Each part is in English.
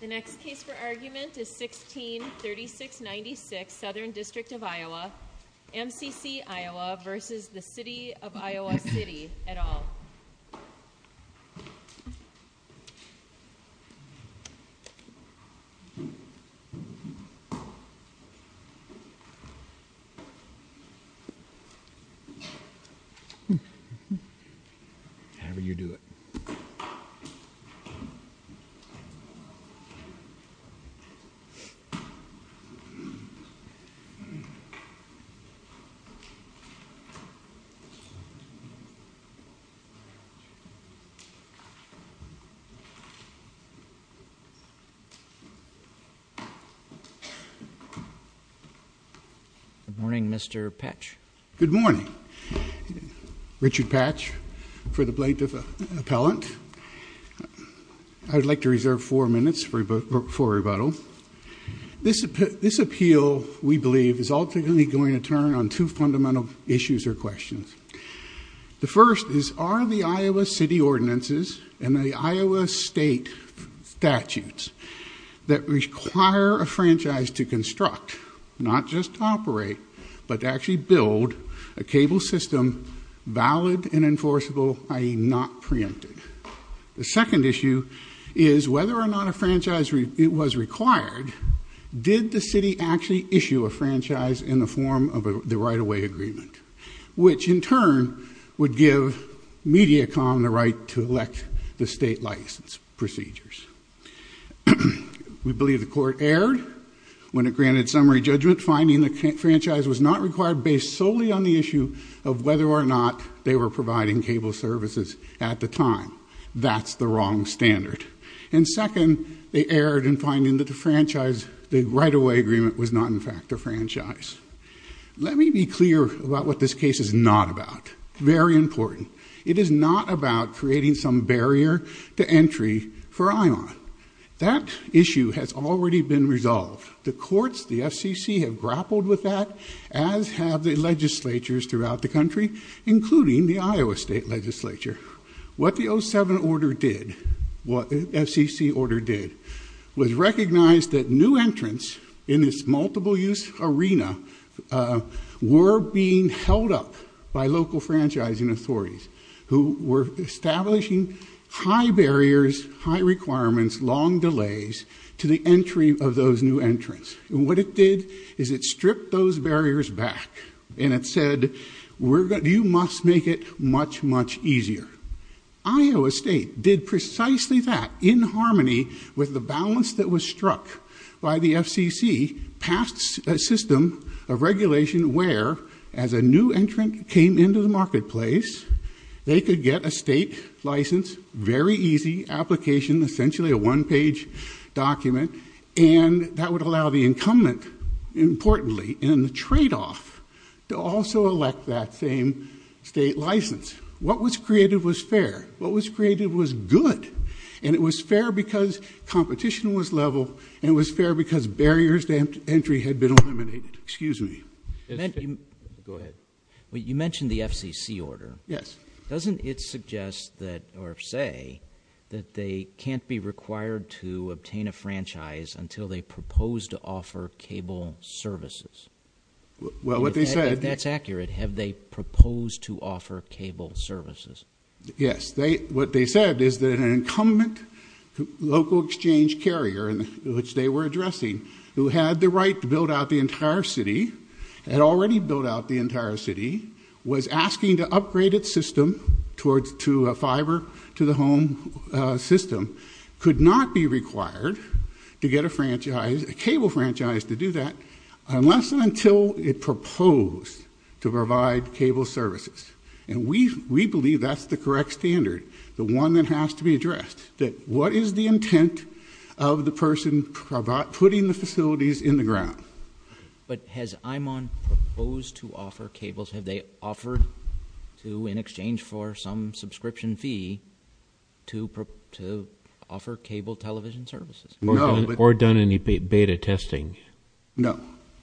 The next case for argument is 16-3696 Southern District of Iowa MCC Iowa v. City of Iowa City The next case for argument is 16-3696 Southern District of Iowa Richard Patch Good morning, Mr. Patch Good morning Richard Patch for the plaintiff appellant I would like to reserve four minutes for rebuttal This appeal, we believe, is ultimately going to turn on two fundamental issues or questions The first is, are the Iowa City ordinances and the Iowa State statutes that require a franchise to construct, not just to operate, but to actually build a cable system valid and enforceable, i.e. not preempted The second issue is, whether or not a franchise was required did the city actually issue a franchise in the form of the right-of-way agreement which, in turn, would give Mediacom the right to elect the state license procedures We believe the court erred when it granted summary judgment finding the franchise was not required based solely on the issue of whether or not they were providing cable services at the time That's the wrong standard And second, they erred in finding that the franchise, the right-of-way agreement, was not in fact a franchise Let me be clear about what this case is not about Very important It is not about creating some barrier to entry for IOM That issue has already been resolved The courts, the FCC, have grappled with that as have the legislatures throughout the country, including the Iowa State legislature What the 07 order did, what the FCC order did was recognize that new entrants in this multiple-use arena were being held up by local franchising authorities who were establishing high barriers, high requirements, long delays to the entry of those new entrants What it did is it stripped those barriers back and it said, you must make it much, much easier Iowa State did precisely that in harmony with the balance that was struck by the FCC passed a system of regulation where, as a new entrant came into the marketplace they could get a state license, very easy application, essentially a one-page document and that would allow the incumbent, importantly, in the trade-off to also elect that same state license What was created was fair, what was created was good and it was fair because competition was level and it was fair because barriers to entry had been eliminated Excuse me Go ahead You mentioned the FCC order Yes Doesn't it suggest that, or say, that they can't be required to obtain a franchise until they propose to offer cable services? Well, what they said If that's accurate, have they proposed to offer cable services? Yes, what they said is that an incumbent local exchange carrier which they were addressing, who had the right to build out the entire city had already built out the entire city was asking to upgrade its system to a fiber-to-the-home system could not be required to get a cable franchise to do that unless and until it proposed to provide cable services and we believe that's the correct standard, the one that has to be addressed that what is the intent of the person putting the facilities in the ground? But has IMON proposed to offer cables? Have they offered to, in exchange for some subscription fee, to offer cable television services? No Or done any beta testing? No,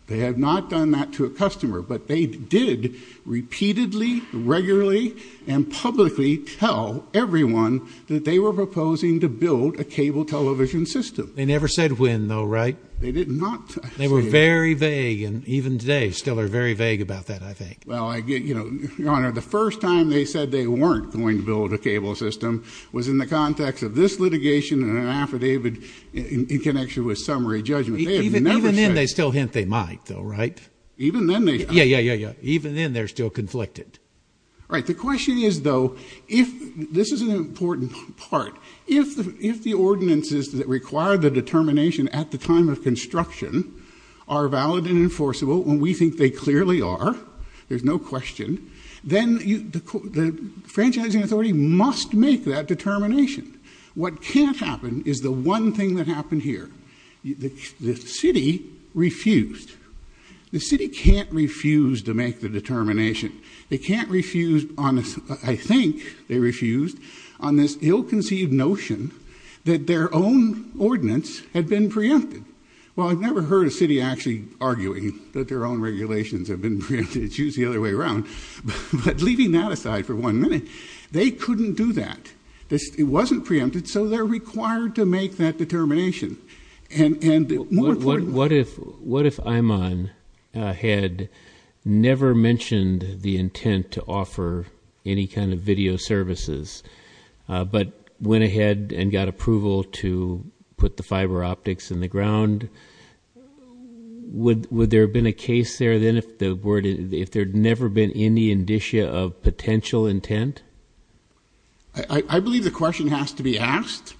they have not done that to a customer but they did repeatedly, regularly, and publicly tell everyone that they were proposing to build a cable television system They never said when, though, right? They did not They were very vague, and even today still are very vague about that, I think Well, Your Honor, the first time they said they weren't going to build a cable system was in the context of this litigation and an affidavit in connection with summary judgment They have never said Even then they still hint they might, though, right? Even then they have Yeah, yeah, yeah, yeah Even then they're still conflicted Right, the question is, though, this is an important part If the ordinances that require the determination at the time of construction are valid and enforceable, and we think they clearly are, there's no question then the franchising authority must make that determination What can't happen is the one thing that happened here The city refused The city can't refuse to make the determination They can't refuse on this I think they refused on this ill-conceived notion that their own ordinance had been preempted Well, I've never heard a city actually arguing that their own regulations have been preempted It's usually the other way around But leaving that aside for one minute They couldn't do that It wasn't preempted, so they're required to make that determination And more importantly What if Imon had never mentioned the intent to offer any kind of video services but went ahead and got approval to put the fiber optics in the ground? Would there have been a case there then if there had never been any indicia of potential intent? I believe the question has to be asked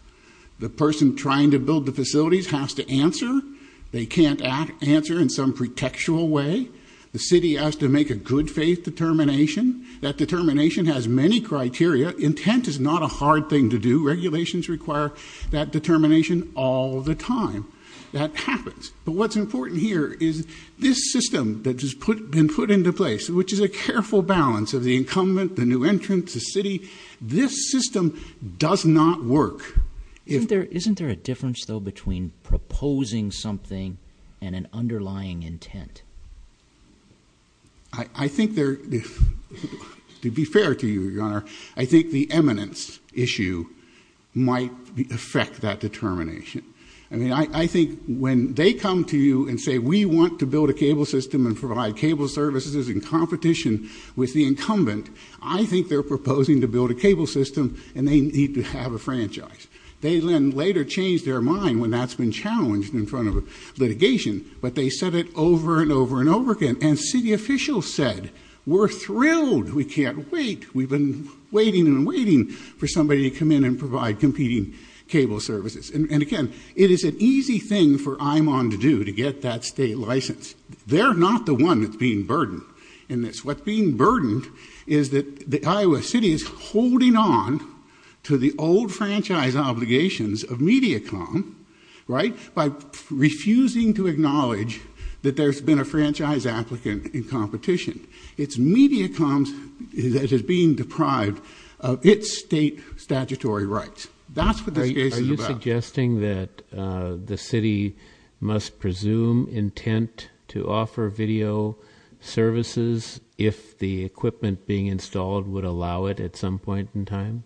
The person trying to build the facilities has to answer They can't answer in some pretextual way The city has to make a good faith determination That determination has many criteria Intent is not a hard thing to do Regulations require that determination all the time That happens But what's important here is this system that has been put into place which is a careful balance of the incumbent, the new entrance, the city This system does not work Isn't there a difference, though, between proposing something and an underlying intent? I think there is To be fair to you, your honor I think the eminence issue might affect that determination I think when they come to you and say We want to build a cable system and provide cable services in competition with the incumbent I think they're proposing to build a cable system and they need to have a franchise They then later change their mind when that's been challenged in front of litigation But they said it over and over and over again And city officials said, we're thrilled We can't wait We've been waiting and waiting for somebody to come in and provide competing cable services And again, it is an easy thing for IMON to do to get that state license They're not the one that's being burdened in this What's being burdened is that Iowa City is holding on to the old franchise obligations of Mediacom by refusing to acknowledge that there's been a franchise applicant in competition It's Mediacom that is being deprived of its state statutory rights Are you suggesting that the city must presume intent to offer video services if the equipment being installed would allow it at some point in time?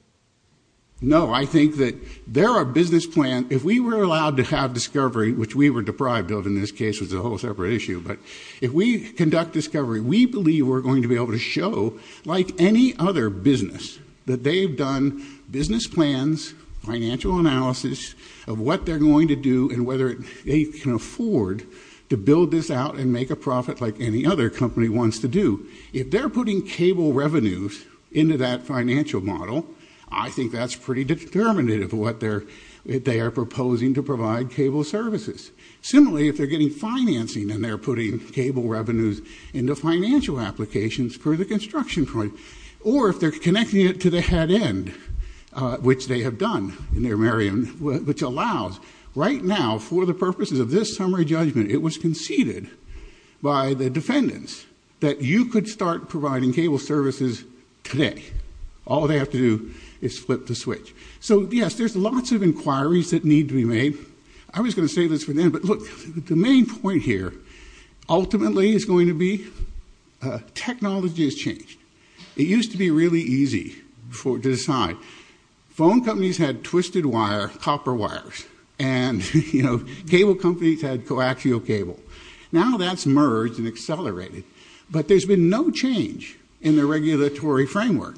No, I think that there are business plan If we were allowed to have discovery, which we were deprived of in this case was a whole separate issue But if we conduct discovery, we believe we're going to be able to show like any other business that they've done business plans, financial analysis of what they're going to do and whether they can afford to build this out and make a profit like any other company wants to do If they're putting cable revenues into that financial model I think that's pretty determinative of what they are proposing to provide cable services Similarly, if they're getting financing and they're putting cable revenues into financial applications Or if they're connecting it to the head end, which they have done in their area which allows right now for the purposes of this summary judgment It was conceded by the defendants that you could start providing cable services today All they have to do is flip the switch So yes, there's lots of inquiries that need to be made I was going to say this for them But look, the main point here ultimately is going to be technology has changed It used to be really easy to decide Phone companies had twisted wire, copper wires And cable companies had coaxial cable Now that's merged and accelerated But there's been no change in the regulatory framework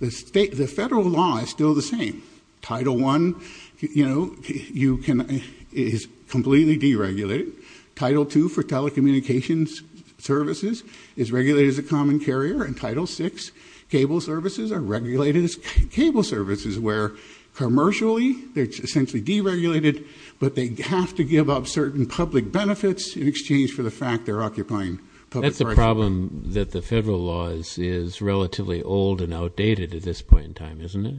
The federal law is still the same Title 1 is completely deregulated Title 2 for telecommunications services is regulated as a common carrier And Title 6 cable services are regulated as cable services Where commercially they're essentially deregulated But they have to give up certain public benefits in exchange for the fact they're occupying That's the problem that the federal law is relatively old and outdated at this point in time, isn't it?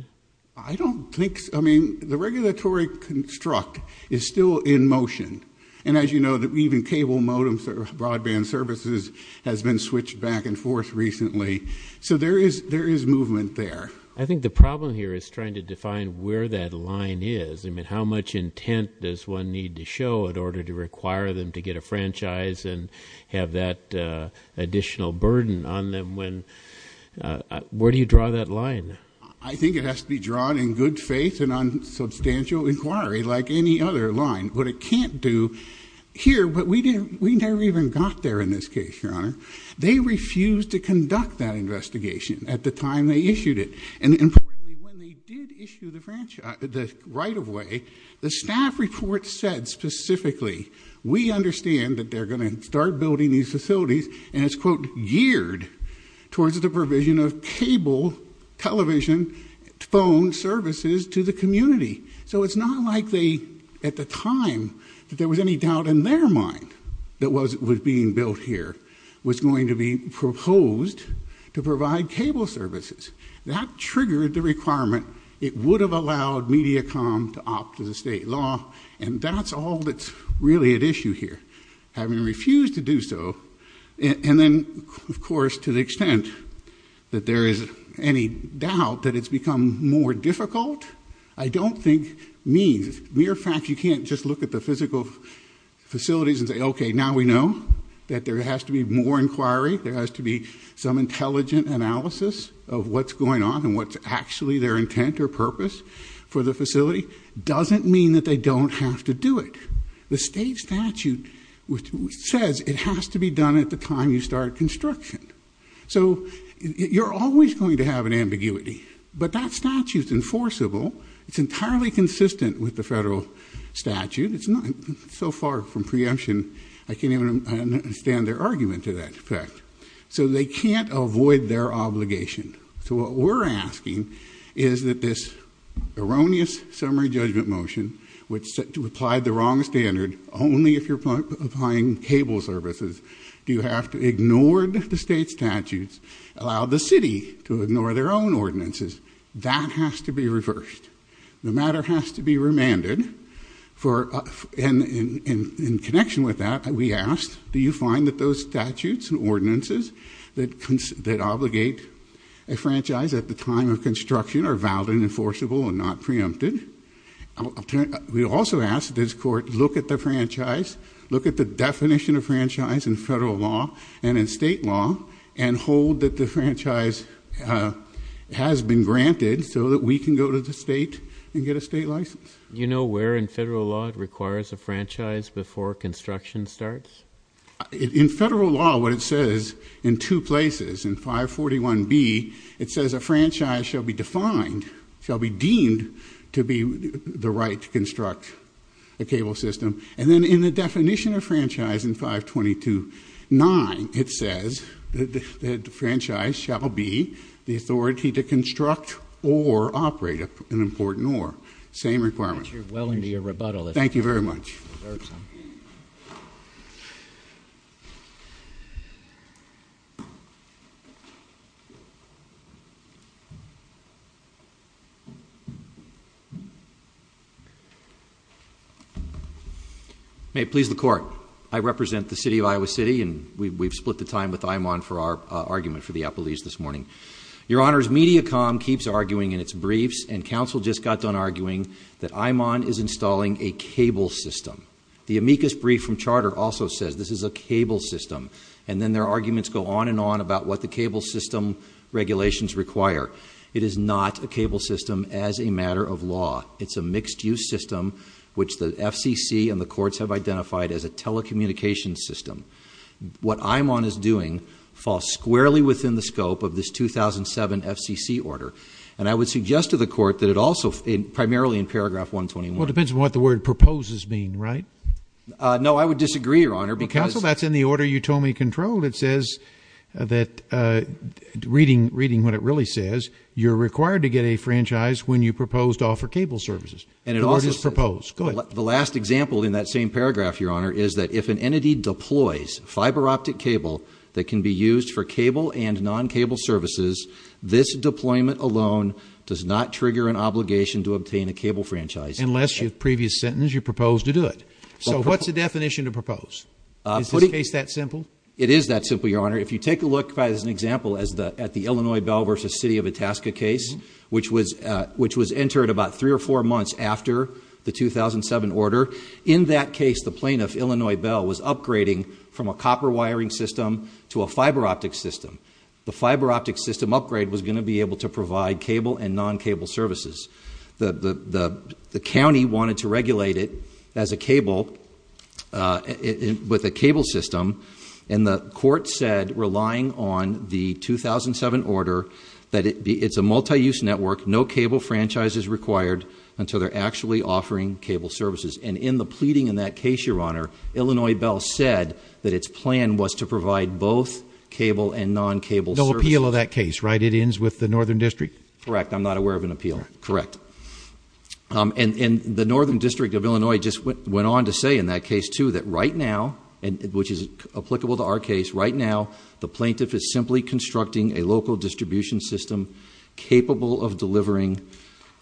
I don't think so I mean, the regulatory construct is still in motion And as you know, even cable modems or broadband services has been switched back and forth recently So there is movement there I think the problem here is trying to define where that line is I mean, how much intent does one need to show in order to require them to get a franchise And have that additional burden on them Where do you draw that line? I think it has to be drawn in good faith and on substantial inquiry like any other line What it can't do here, but we never even got there in this case, Your Honor They refused to conduct that investigation at the time they issued it And importantly, when they did issue the right-of-way The staff report said specifically We understand that they're going to start building these facilities And it's, quote, geared towards the provision of cable, television, phone services to the community So it's not like they, at the time, that there was any doubt in their mind that was being built here Was going to be proposed to provide cable services That triggered the requirement It would have allowed Mediacom to opt to the state law And that's all that's really at issue here Having refused to do so And then, of course, to the extent that there is any doubt that it's become more difficult I don't think means, mere fact, you can't just look at the physical facilities and say Okay, now we know that there has to be more inquiry There has to be some intelligent analysis of what's going on And what's actually their intent or purpose for the facility Doesn't mean that they don't have to do it The state statute says it has to be done at the time you start construction So you're always going to have an ambiguity But that statute's enforceable It's entirely consistent with the federal statute It's not so far from preemption I can't even understand their argument to that effect So they can't avoid their obligation So what we're asking is that this erroneous summary judgment motion Which said to apply the wrong standard Only if you're applying cable services Do you have to ignore the state statutes Allow the city to ignore their own ordinances That has to be reversed The matter has to be remanded And in connection with that, we asked Do you find that those statutes and ordinances That obligate a franchise at the time of construction Are valid and enforceable and not preempted We also asked this court to look at the franchise Look at the definition of franchise in federal law And in state law And hold that the franchise has been granted So that we can go to the state and get a state license You know where in federal law it requires a franchise Before construction starts? In federal law, what it says in two places In 541B, it says a franchise shall be defined Shall be deemed to be the right to construct a cable system And then in the definition of franchise in 5229 It says that the franchise shall be The authority to construct or operate an important oar Same requirement Thank you very much May it please the court I represent the city of Iowa City And we've split the time with Imon For our argument for the appellees this morning Your honors, MediaCom keeps arguing in its briefs And counsel just got done arguing That Imon is installing a cable system The amicus brief from charter also says this is a cable system And then their arguments go on and on about what the cable system Regulations require It is not a cable system as a matter of law It's a mixed-use system which the FCC and the courts Have identified as a telecommunications system What Imon is doing falls squarely within the scope Of this 2007 FCC order And I would suggest to the court that it also Primarily in paragraph 121 Well it depends on what the word proposes means, right? No, I would disagree, your honor, because Counsel, that's in the order you told me controlled It says that, reading what it really says You're required to get a franchise When you propose to offer cable services And it also says Go ahead The last example in that same paragraph, your honor Is that if an entity deploys fiber optic cable That can be used for cable and non-cable services This deployment alone does not trigger An obligation to obtain a cable franchise Unless your previous sentence you proposed to do it So what's the definition to propose? Is this case that simple? It is that simple, your honor If you take a look as an example At the Illinois Bell v. City of Itasca case Which was entered about three or four months After the 2007 order In that case, the plaintiff, Illinois Bell Was upgrading from a copper wiring system To a fiber optic system The fiber optic system upgrade was going to be able To provide cable and non-cable services The county wanted to regulate it as a cable With a cable system And the court said, relying on the 2007 order That it's a multi-use network No cable franchise is required Until they're actually offering cable services And in the pleading in that case, your honor Illinois Bell said that its plan was to provide Both cable and non-cable services No appeal of that case, right? It ends with the Northern District? Correct, I'm not aware of an appeal Correct And the Northern District of Illinois Just went on to say in that case too That right now, which is applicable to our case Right now, the plaintiff is simply constructing A local distribution system Capable of delivering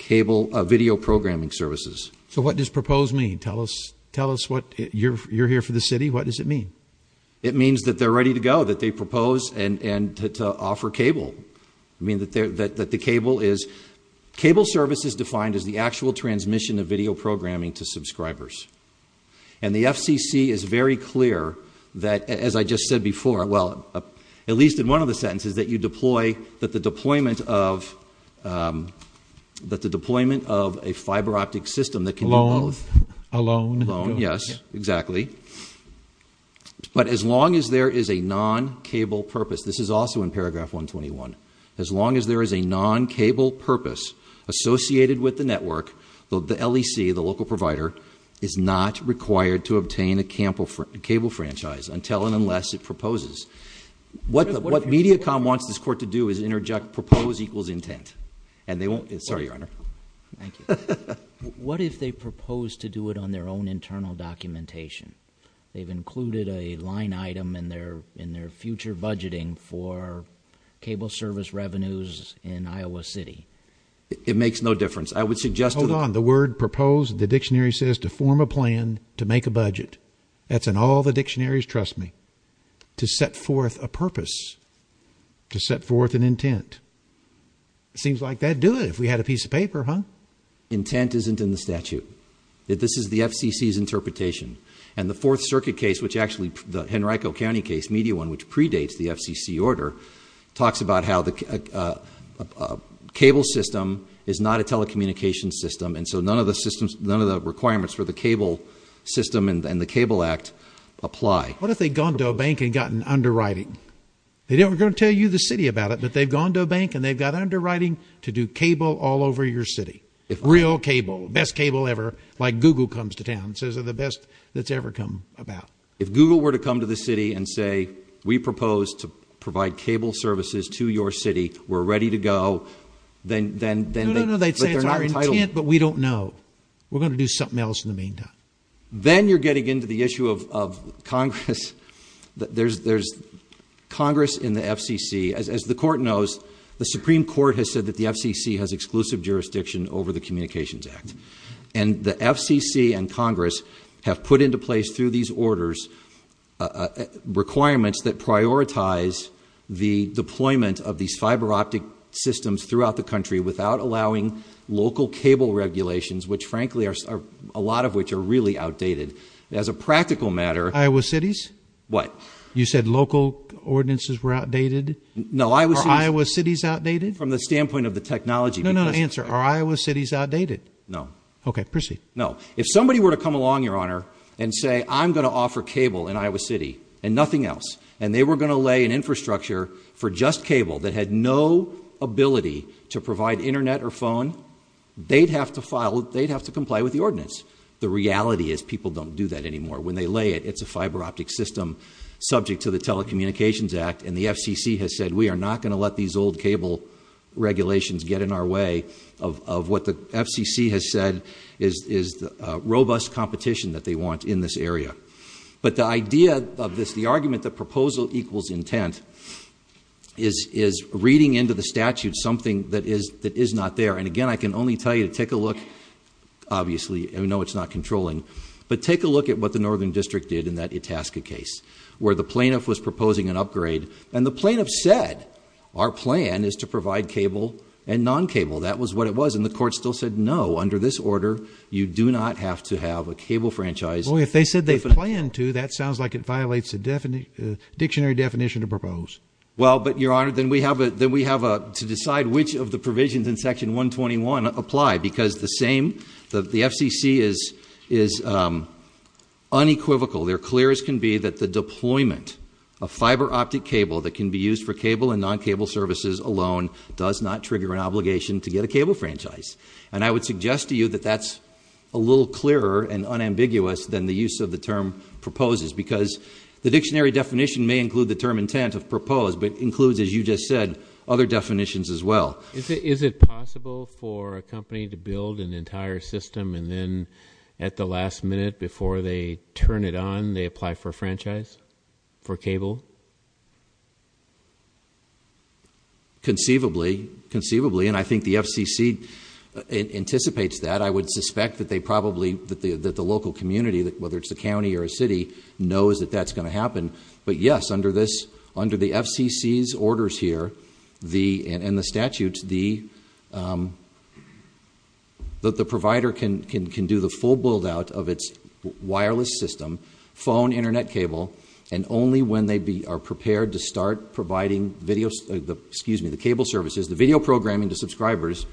video programming services So what does proposed mean? Tell us what, you're here for the city What does it mean? It means that they're ready to go That they propose to offer cable I mean that the cable is Cable service is defined as the actual transmission Of video programming to subscribers And the FCC is very clear that As I just said before, well At least in one of the sentences That you deploy, that the deployment of That the deployment of a fiber optic system That can do both Alone Alone, yes, exactly But as long as there is a non-cable purpose This is also in paragraph 121 As long as there is a non-cable purpose Associated with the network The LEC, the local provider Is not required to obtain a cable franchise Until and unless it proposes What Mediacom wants this court to do Is interject propose equals intent And they won't, sorry your honor Thank you What if they propose to do it On their own internal documentation? They've included a line item In their future budgeting For cable service revenues in Iowa City It makes no difference Hold on, the word propose The dictionary says to form a plan To make a budget That's in all the dictionaries, trust me To set forth a purpose To set forth an intent Seems like they'd do it If we had a piece of paper, huh? Intent isn't in the statute This is the FCC's interpretation And the Fourth Circuit case Which actually, the Henrico County case Media one, which predates the FCC order Talks about how the cable system Is not a telecommunications system And so none of the requirements For the cable system And the cable act apply What if they'd gone to a bank And gotten underwriting? They're never going to tell you The city about it But they've gone to a bank And they've got underwriting To do cable all over your city Real cable, best cable ever Like Google comes to town Says they're the best That's ever come about If Google were to come to the city And say we propose To provide cable services To your city We're ready to go No, no, no They'd say it's our intent But we don't know We're going to do something else In the meantime Then you're getting Into the issue of Congress There's Congress in the FCC As the court knows The Supreme Court has said That the FCC has exclusive jurisdiction Over the Communications Act And the FCC and Congress Have put into place Through these orders Requirements that prioritize The deployment of these fiber optic Systems throughout the country Without allowing local Cable regulations Which frankly are A lot of which are really outdated As a practical matter Iowa cities? What? You said local ordinances Were outdated? No, Iowa cities Are Iowa cities outdated? From the standpoint Of the technology No, no, answer Are Iowa cities outdated? No Okay, proceed No If somebody were to come along Your honor And say I'm going to offer Cable in Iowa city And nothing else And they were going to lay An infrastructure For just cable That had no ability To provide internet or phone They'd have to file They'd have to comply With the ordinance The reality is People don't do that anymore When they lay it It's a fiber optic system Subject to the Telecommunications Act And the FCC has said We are not going to let These old cable regulations Get in our way Of what the FCC has said Is robust competition That they want in this area But the idea of this The argument that Proposal equals intent Is reading into the statute Something that is not there And again, I can only tell you To take a look Obviously I know it's not controlling But take a look At what the northern district did In that Itasca case Where the plaintiff Was proposing an upgrade And the plaintiff said Our plan is to provide cable And non-cable That was what it was And the court still said No, under this order You do not have to have A cable franchise If they said they planned to That sounds like it violates A dictionary definition Well, but your honor Then we have to decide Which of the provisions In section 121 apply Because the same The FCC is unequivocal They're clear as can be That the deployment Of fiber optic cable That can be used for cable And non-cable services alone Does not trigger an obligation To get a cable franchise And I would suggest to you That that's a little clearer And unambiguous Than the use of the term Proposes Because the dictionary definition May include the term Intent of propose But includes as you just said Other definitions as well Is it possible for a company To build an entire system And then at the last minute Before they turn it on They apply for a franchise For cable Conceivably Conceivably And I think the FCC Anticipates that I would suspect That they probably That the local community Whether it's the county Or a city Knows that that's going to happen But yes Under the FCC's orders here And the statutes The provider can do The full build out Of its wireless system Phone, internet cable And only when they are prepared To start providing The cable services The video programming To subscribers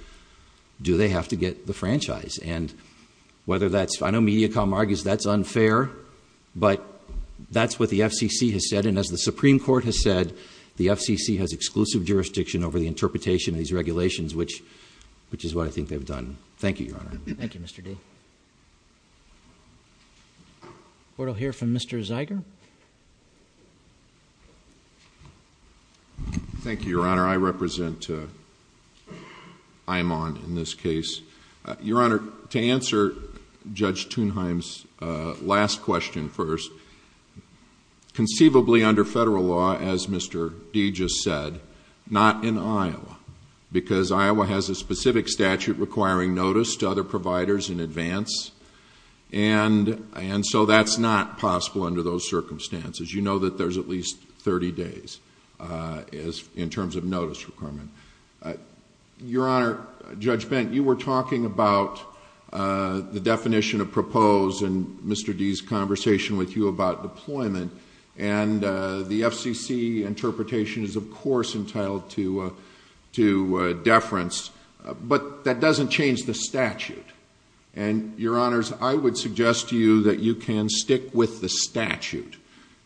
Do they have to get the franchise And whether that's I know Mediacom argues That's unfair But that's what the FCC Has said And as the Supreme Court Has said The FCC has exclusive Jurisdiction over the Interpretation of these Regulations Which is what I think They've done Thank you, your honor Thank you, Mr. D We'll hear from Mr. Zeiger Thank you, your honor I represent I'm on in this case Your honor To answer Judge Tunheim's Last question first Conceivably under federal law As Mr. D just said Not in Iowa Because Iowa has a specific statute Requiring notice to other providers In advance And so that's not possible Under those circumstances You know that there's at least 30 days In terms of notice requirement Your honor Judge Bent You were talking about The definition of propose And Mr. D's conversation With you about deployment And the FCC interpretation Is of course entitled To deference But that doesn't change The statute And your honors I would suggest to you That you can stick With the statute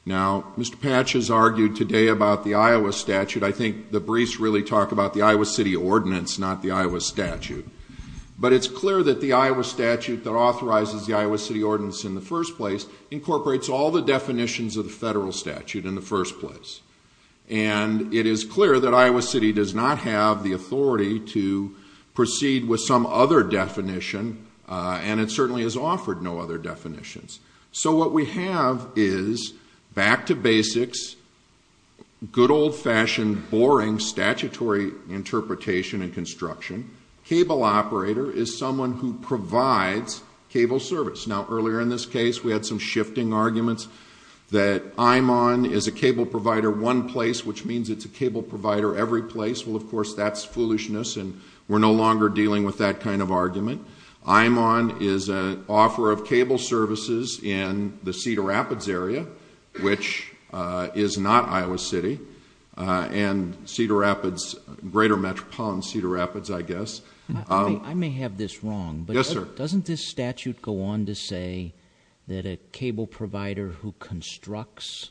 Now Mr. Patches Argued today About the Iowa statute I think the briefs Really talk about The Iowa city ordinance Not the Iowa statute But it's clear That the Iowa statute That authorizes The Iowa city ordinance In the first place Incorporates all the definitions Of the federal statute In the first place And it is clear That Iowa city Does not have the authority To proceed with Some other definition And it certainly Has offered no other definitions So what we have is Back to basics Good old fashioned Boring statutory interpretation And construction Cable operator Is someone who provides Cable service Now earlier in this case We had some shifting arguments That I'm on Is a cable provider One place Which means it's a cable provider Every place Well of course That's foolishness And we're no longer Dealing with that kind of argument I'm on is an offer Of cable services In the cedar rapids area Which is not Iowa city And cedar rapids Greater metropolitan cedar rapids I guess I may have this wrong Yes sir Doesn't this statute Go on to say That a cable provider Who constructs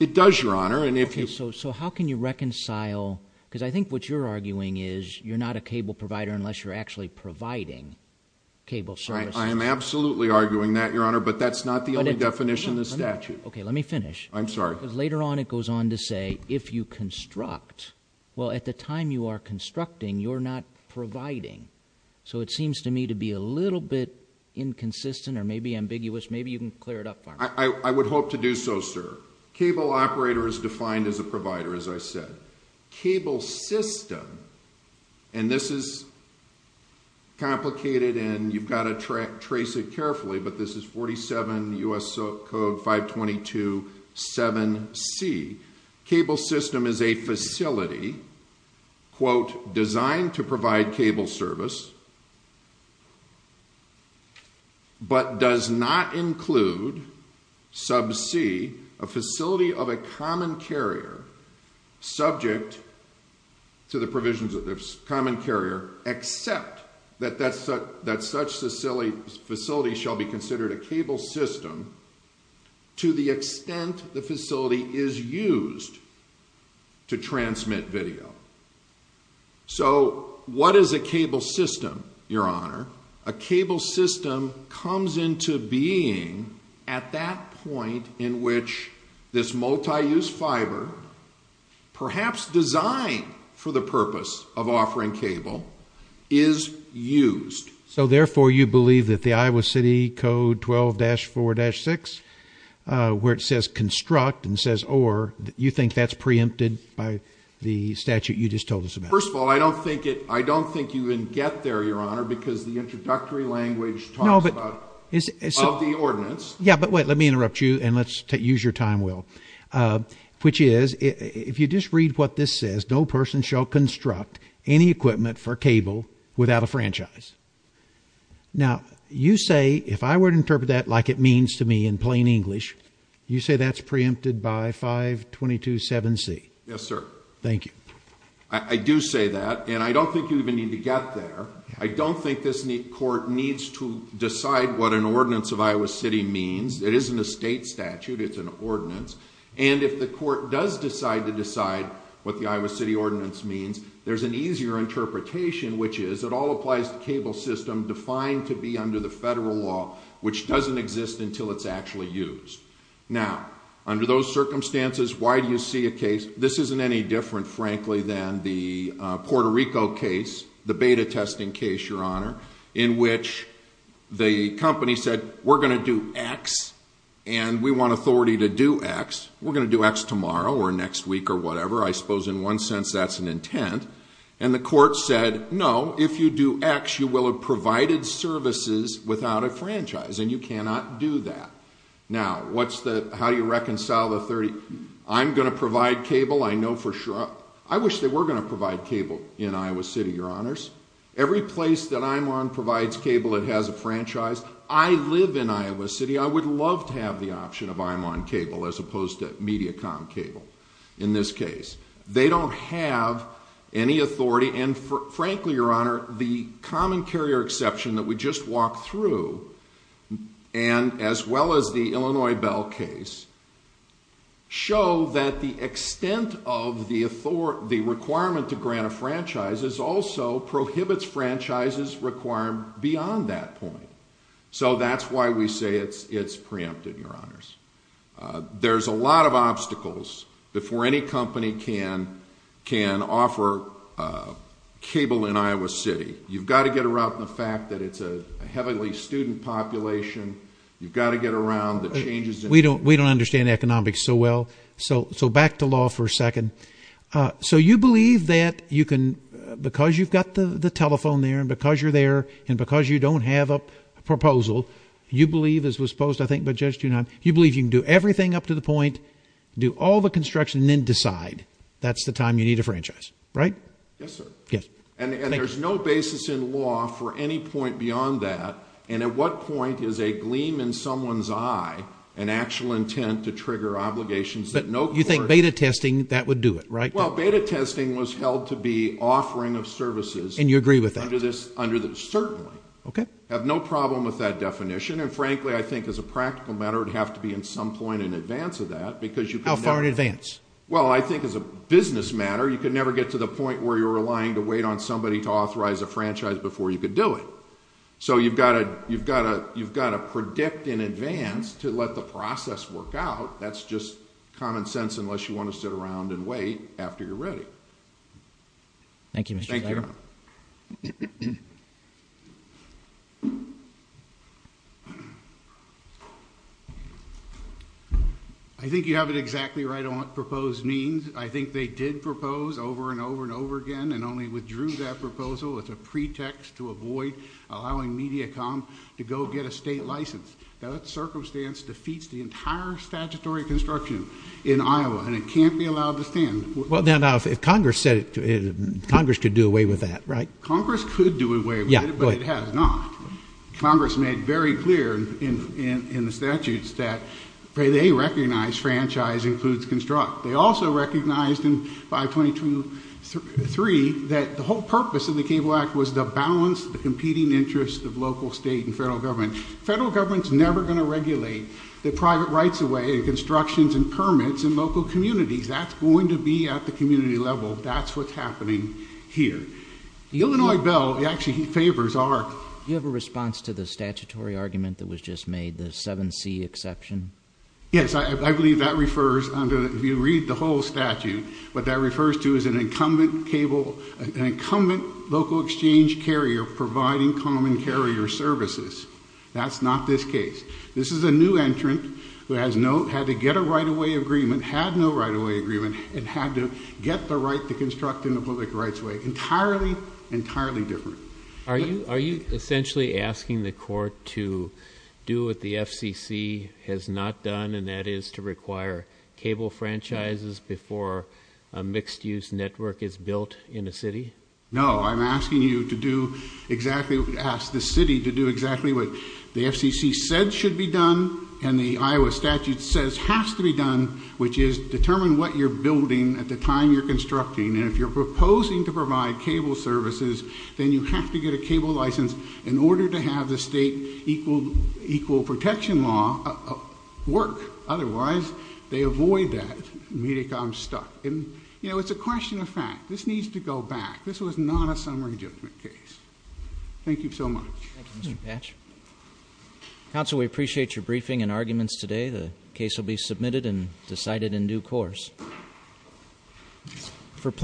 It does your honor And if you So how can you reconcile Because I think What you're arguing is You're not a cable provider Unless you're actually Providing Cable services I am absolutely Arguing that your honor But that's not the only Definition of the statute Okay let me finish I'm sorry Because later on It goes on to say If you construct Well at the time You are constructing You're not providing So it seems to me To be a little bit Inconsistent Or maybe ambiguous Maybe you can clear it up I would hope to do so sir Cable operator Is defined as a provider As I said Cable system And this is Complicated And you've got to Trace it carefully But this is 47 U.S. code 522 7C Cable system is a facility Quote Designed to provide Cable service But does not include Sub C A facility of a common carrier Subject To the provisions of this Common carrier Except That such facility Shall be considered A cable system To the extent The facility is used To transmit video So What is a cable system Your honor A cable system Comes into being At that point In which This multi-use fiber Perhaps designed For the purpose Of offering cable Is used So therefore you believe That the Iowa City code 12-4-6 Where it says construct And says or You think that's preempted By the statute You just told us about First of all I don't think I don't think you can Get there your honor Because the introductory Language Talks about Of the ordinance Yeah but wait Let me interrupt you And let's use your time Will Which is If you just read What this says No person Shall construct Any equipment For cable Without a franchise Now You say If I were to interpret That like it means to me In plain English You say that's preempted By 522-7C Yes sir Thank you I do say that And I don't think You even need to get there I don't think this Court needs To decide What an ordinance Of Iowa City means It isn't a state statute It's an ordinance And if the court Does decide To decide What the Iowa City Ordinance means There's an easier Interpretation Which is It all applies To cable system Defined to be Under the federal law Which doesn't exist Until it's actually used Now Under those circumstances Why do you see a case This isn't any different Frankly than The Puerto Rico case The beta testing case Your honor In which The company said We're going to do X And we want authority To do X We're going to do X tomorrow Or next week Or whatever I suppose In one sense That's an intent And the court said No If you do X Services Without a franchise And you cannot do that Now What's the How do you reconcile The 30 I'm going to provide cable I know for sure I'm going to provide I wish they were Going to provide cable In Iowa City Your honors Every place That I'm on Provides cable It has a franchise I live in Iowa City I would love to have The option of I'm on cable As opposed to Media com cable In this case They don't have Any authority And frankly Your honor The common carrier Exception That we just Walked through And as well As the Illinois Bell case Show That the Extent Of the Requirement To grant a Franchise Is also Prohibits franchises Require beyond That point So that's why We say It's preempted Your honors There's a lot Of obstacles Before any company Can Can offer Cable In Iowa City You've got To get around The fact that It's a Heavily student Population You've got To get around The changes We don't Understand economics So well So back To law For a second So you Believe that You can Because you've got The telephone There and because You're there And because you Don't have a Proposal You believe You can do Everything up to the Point Do all the Construction And then decide That's the time You need a Franchise Right Yes sir Yes And there's No basis In law For any point Beyond that And at What point Is a gleam In someone's Eye An actual Intent to Trigger Obligations You think Beta testing That would Do it Beta testing Was held To be Offering of Services And you Agree with That Certainly Have no Problem with That definition And frankly I think as a Practical matter It would have To be in Some point In advance Of that How far in Advance Well I think As a business Matter you Could never Get to the Point where You're relying To wait on Somebody to Authorize a Franchise Before you Could do It so you've Got to You've got To predict In advance To let The process Work out That's just Common sense Unless you Want to Sit around And wait After you're Ready Thank you Thank you I think you Have it Exactly right On what Proposed Means I Think they Did propose Over and Over and Over again And only Withdrew that Proposal With a Pretext to Avoid Allowing Mediacom To go Get a State license That Circumstance Defeats the Entire Statutory Construction In Iowa And it Can't be Allowed to Stand Well now Congress Could do Away with That right Congress Could do Away with It but It has Not Congress Made very Clear That It Was The Balance The Competing Interest Of Local State And Federal Government Is Never Going To Regulate The Private Rights In Local Communities That's What's Happening Here The Illinois Bill Actually Favors Our You Have A Response To The Statutory Argument That Was Just Made The 7C Exception Yes I Believe That Refers To An Incumbent Local Exchange Carrier Providing Common Carrier Services That's Not This Case This Is A New Entrant Who Had To Get The Right To Construct In The Public Rights Are You Essentially Asking The Court To Do What The FCC Has Not Done And That Is To Require Cable Franchises Before A Mixed Use Network Is Built In The Public Rights Are What The FCC Has Not Done And That Is To Require Cable Franchises Before A Mixed Use Asking The Court To Do What The FCC Has Not Done And That Is To Require Cable Franchises Before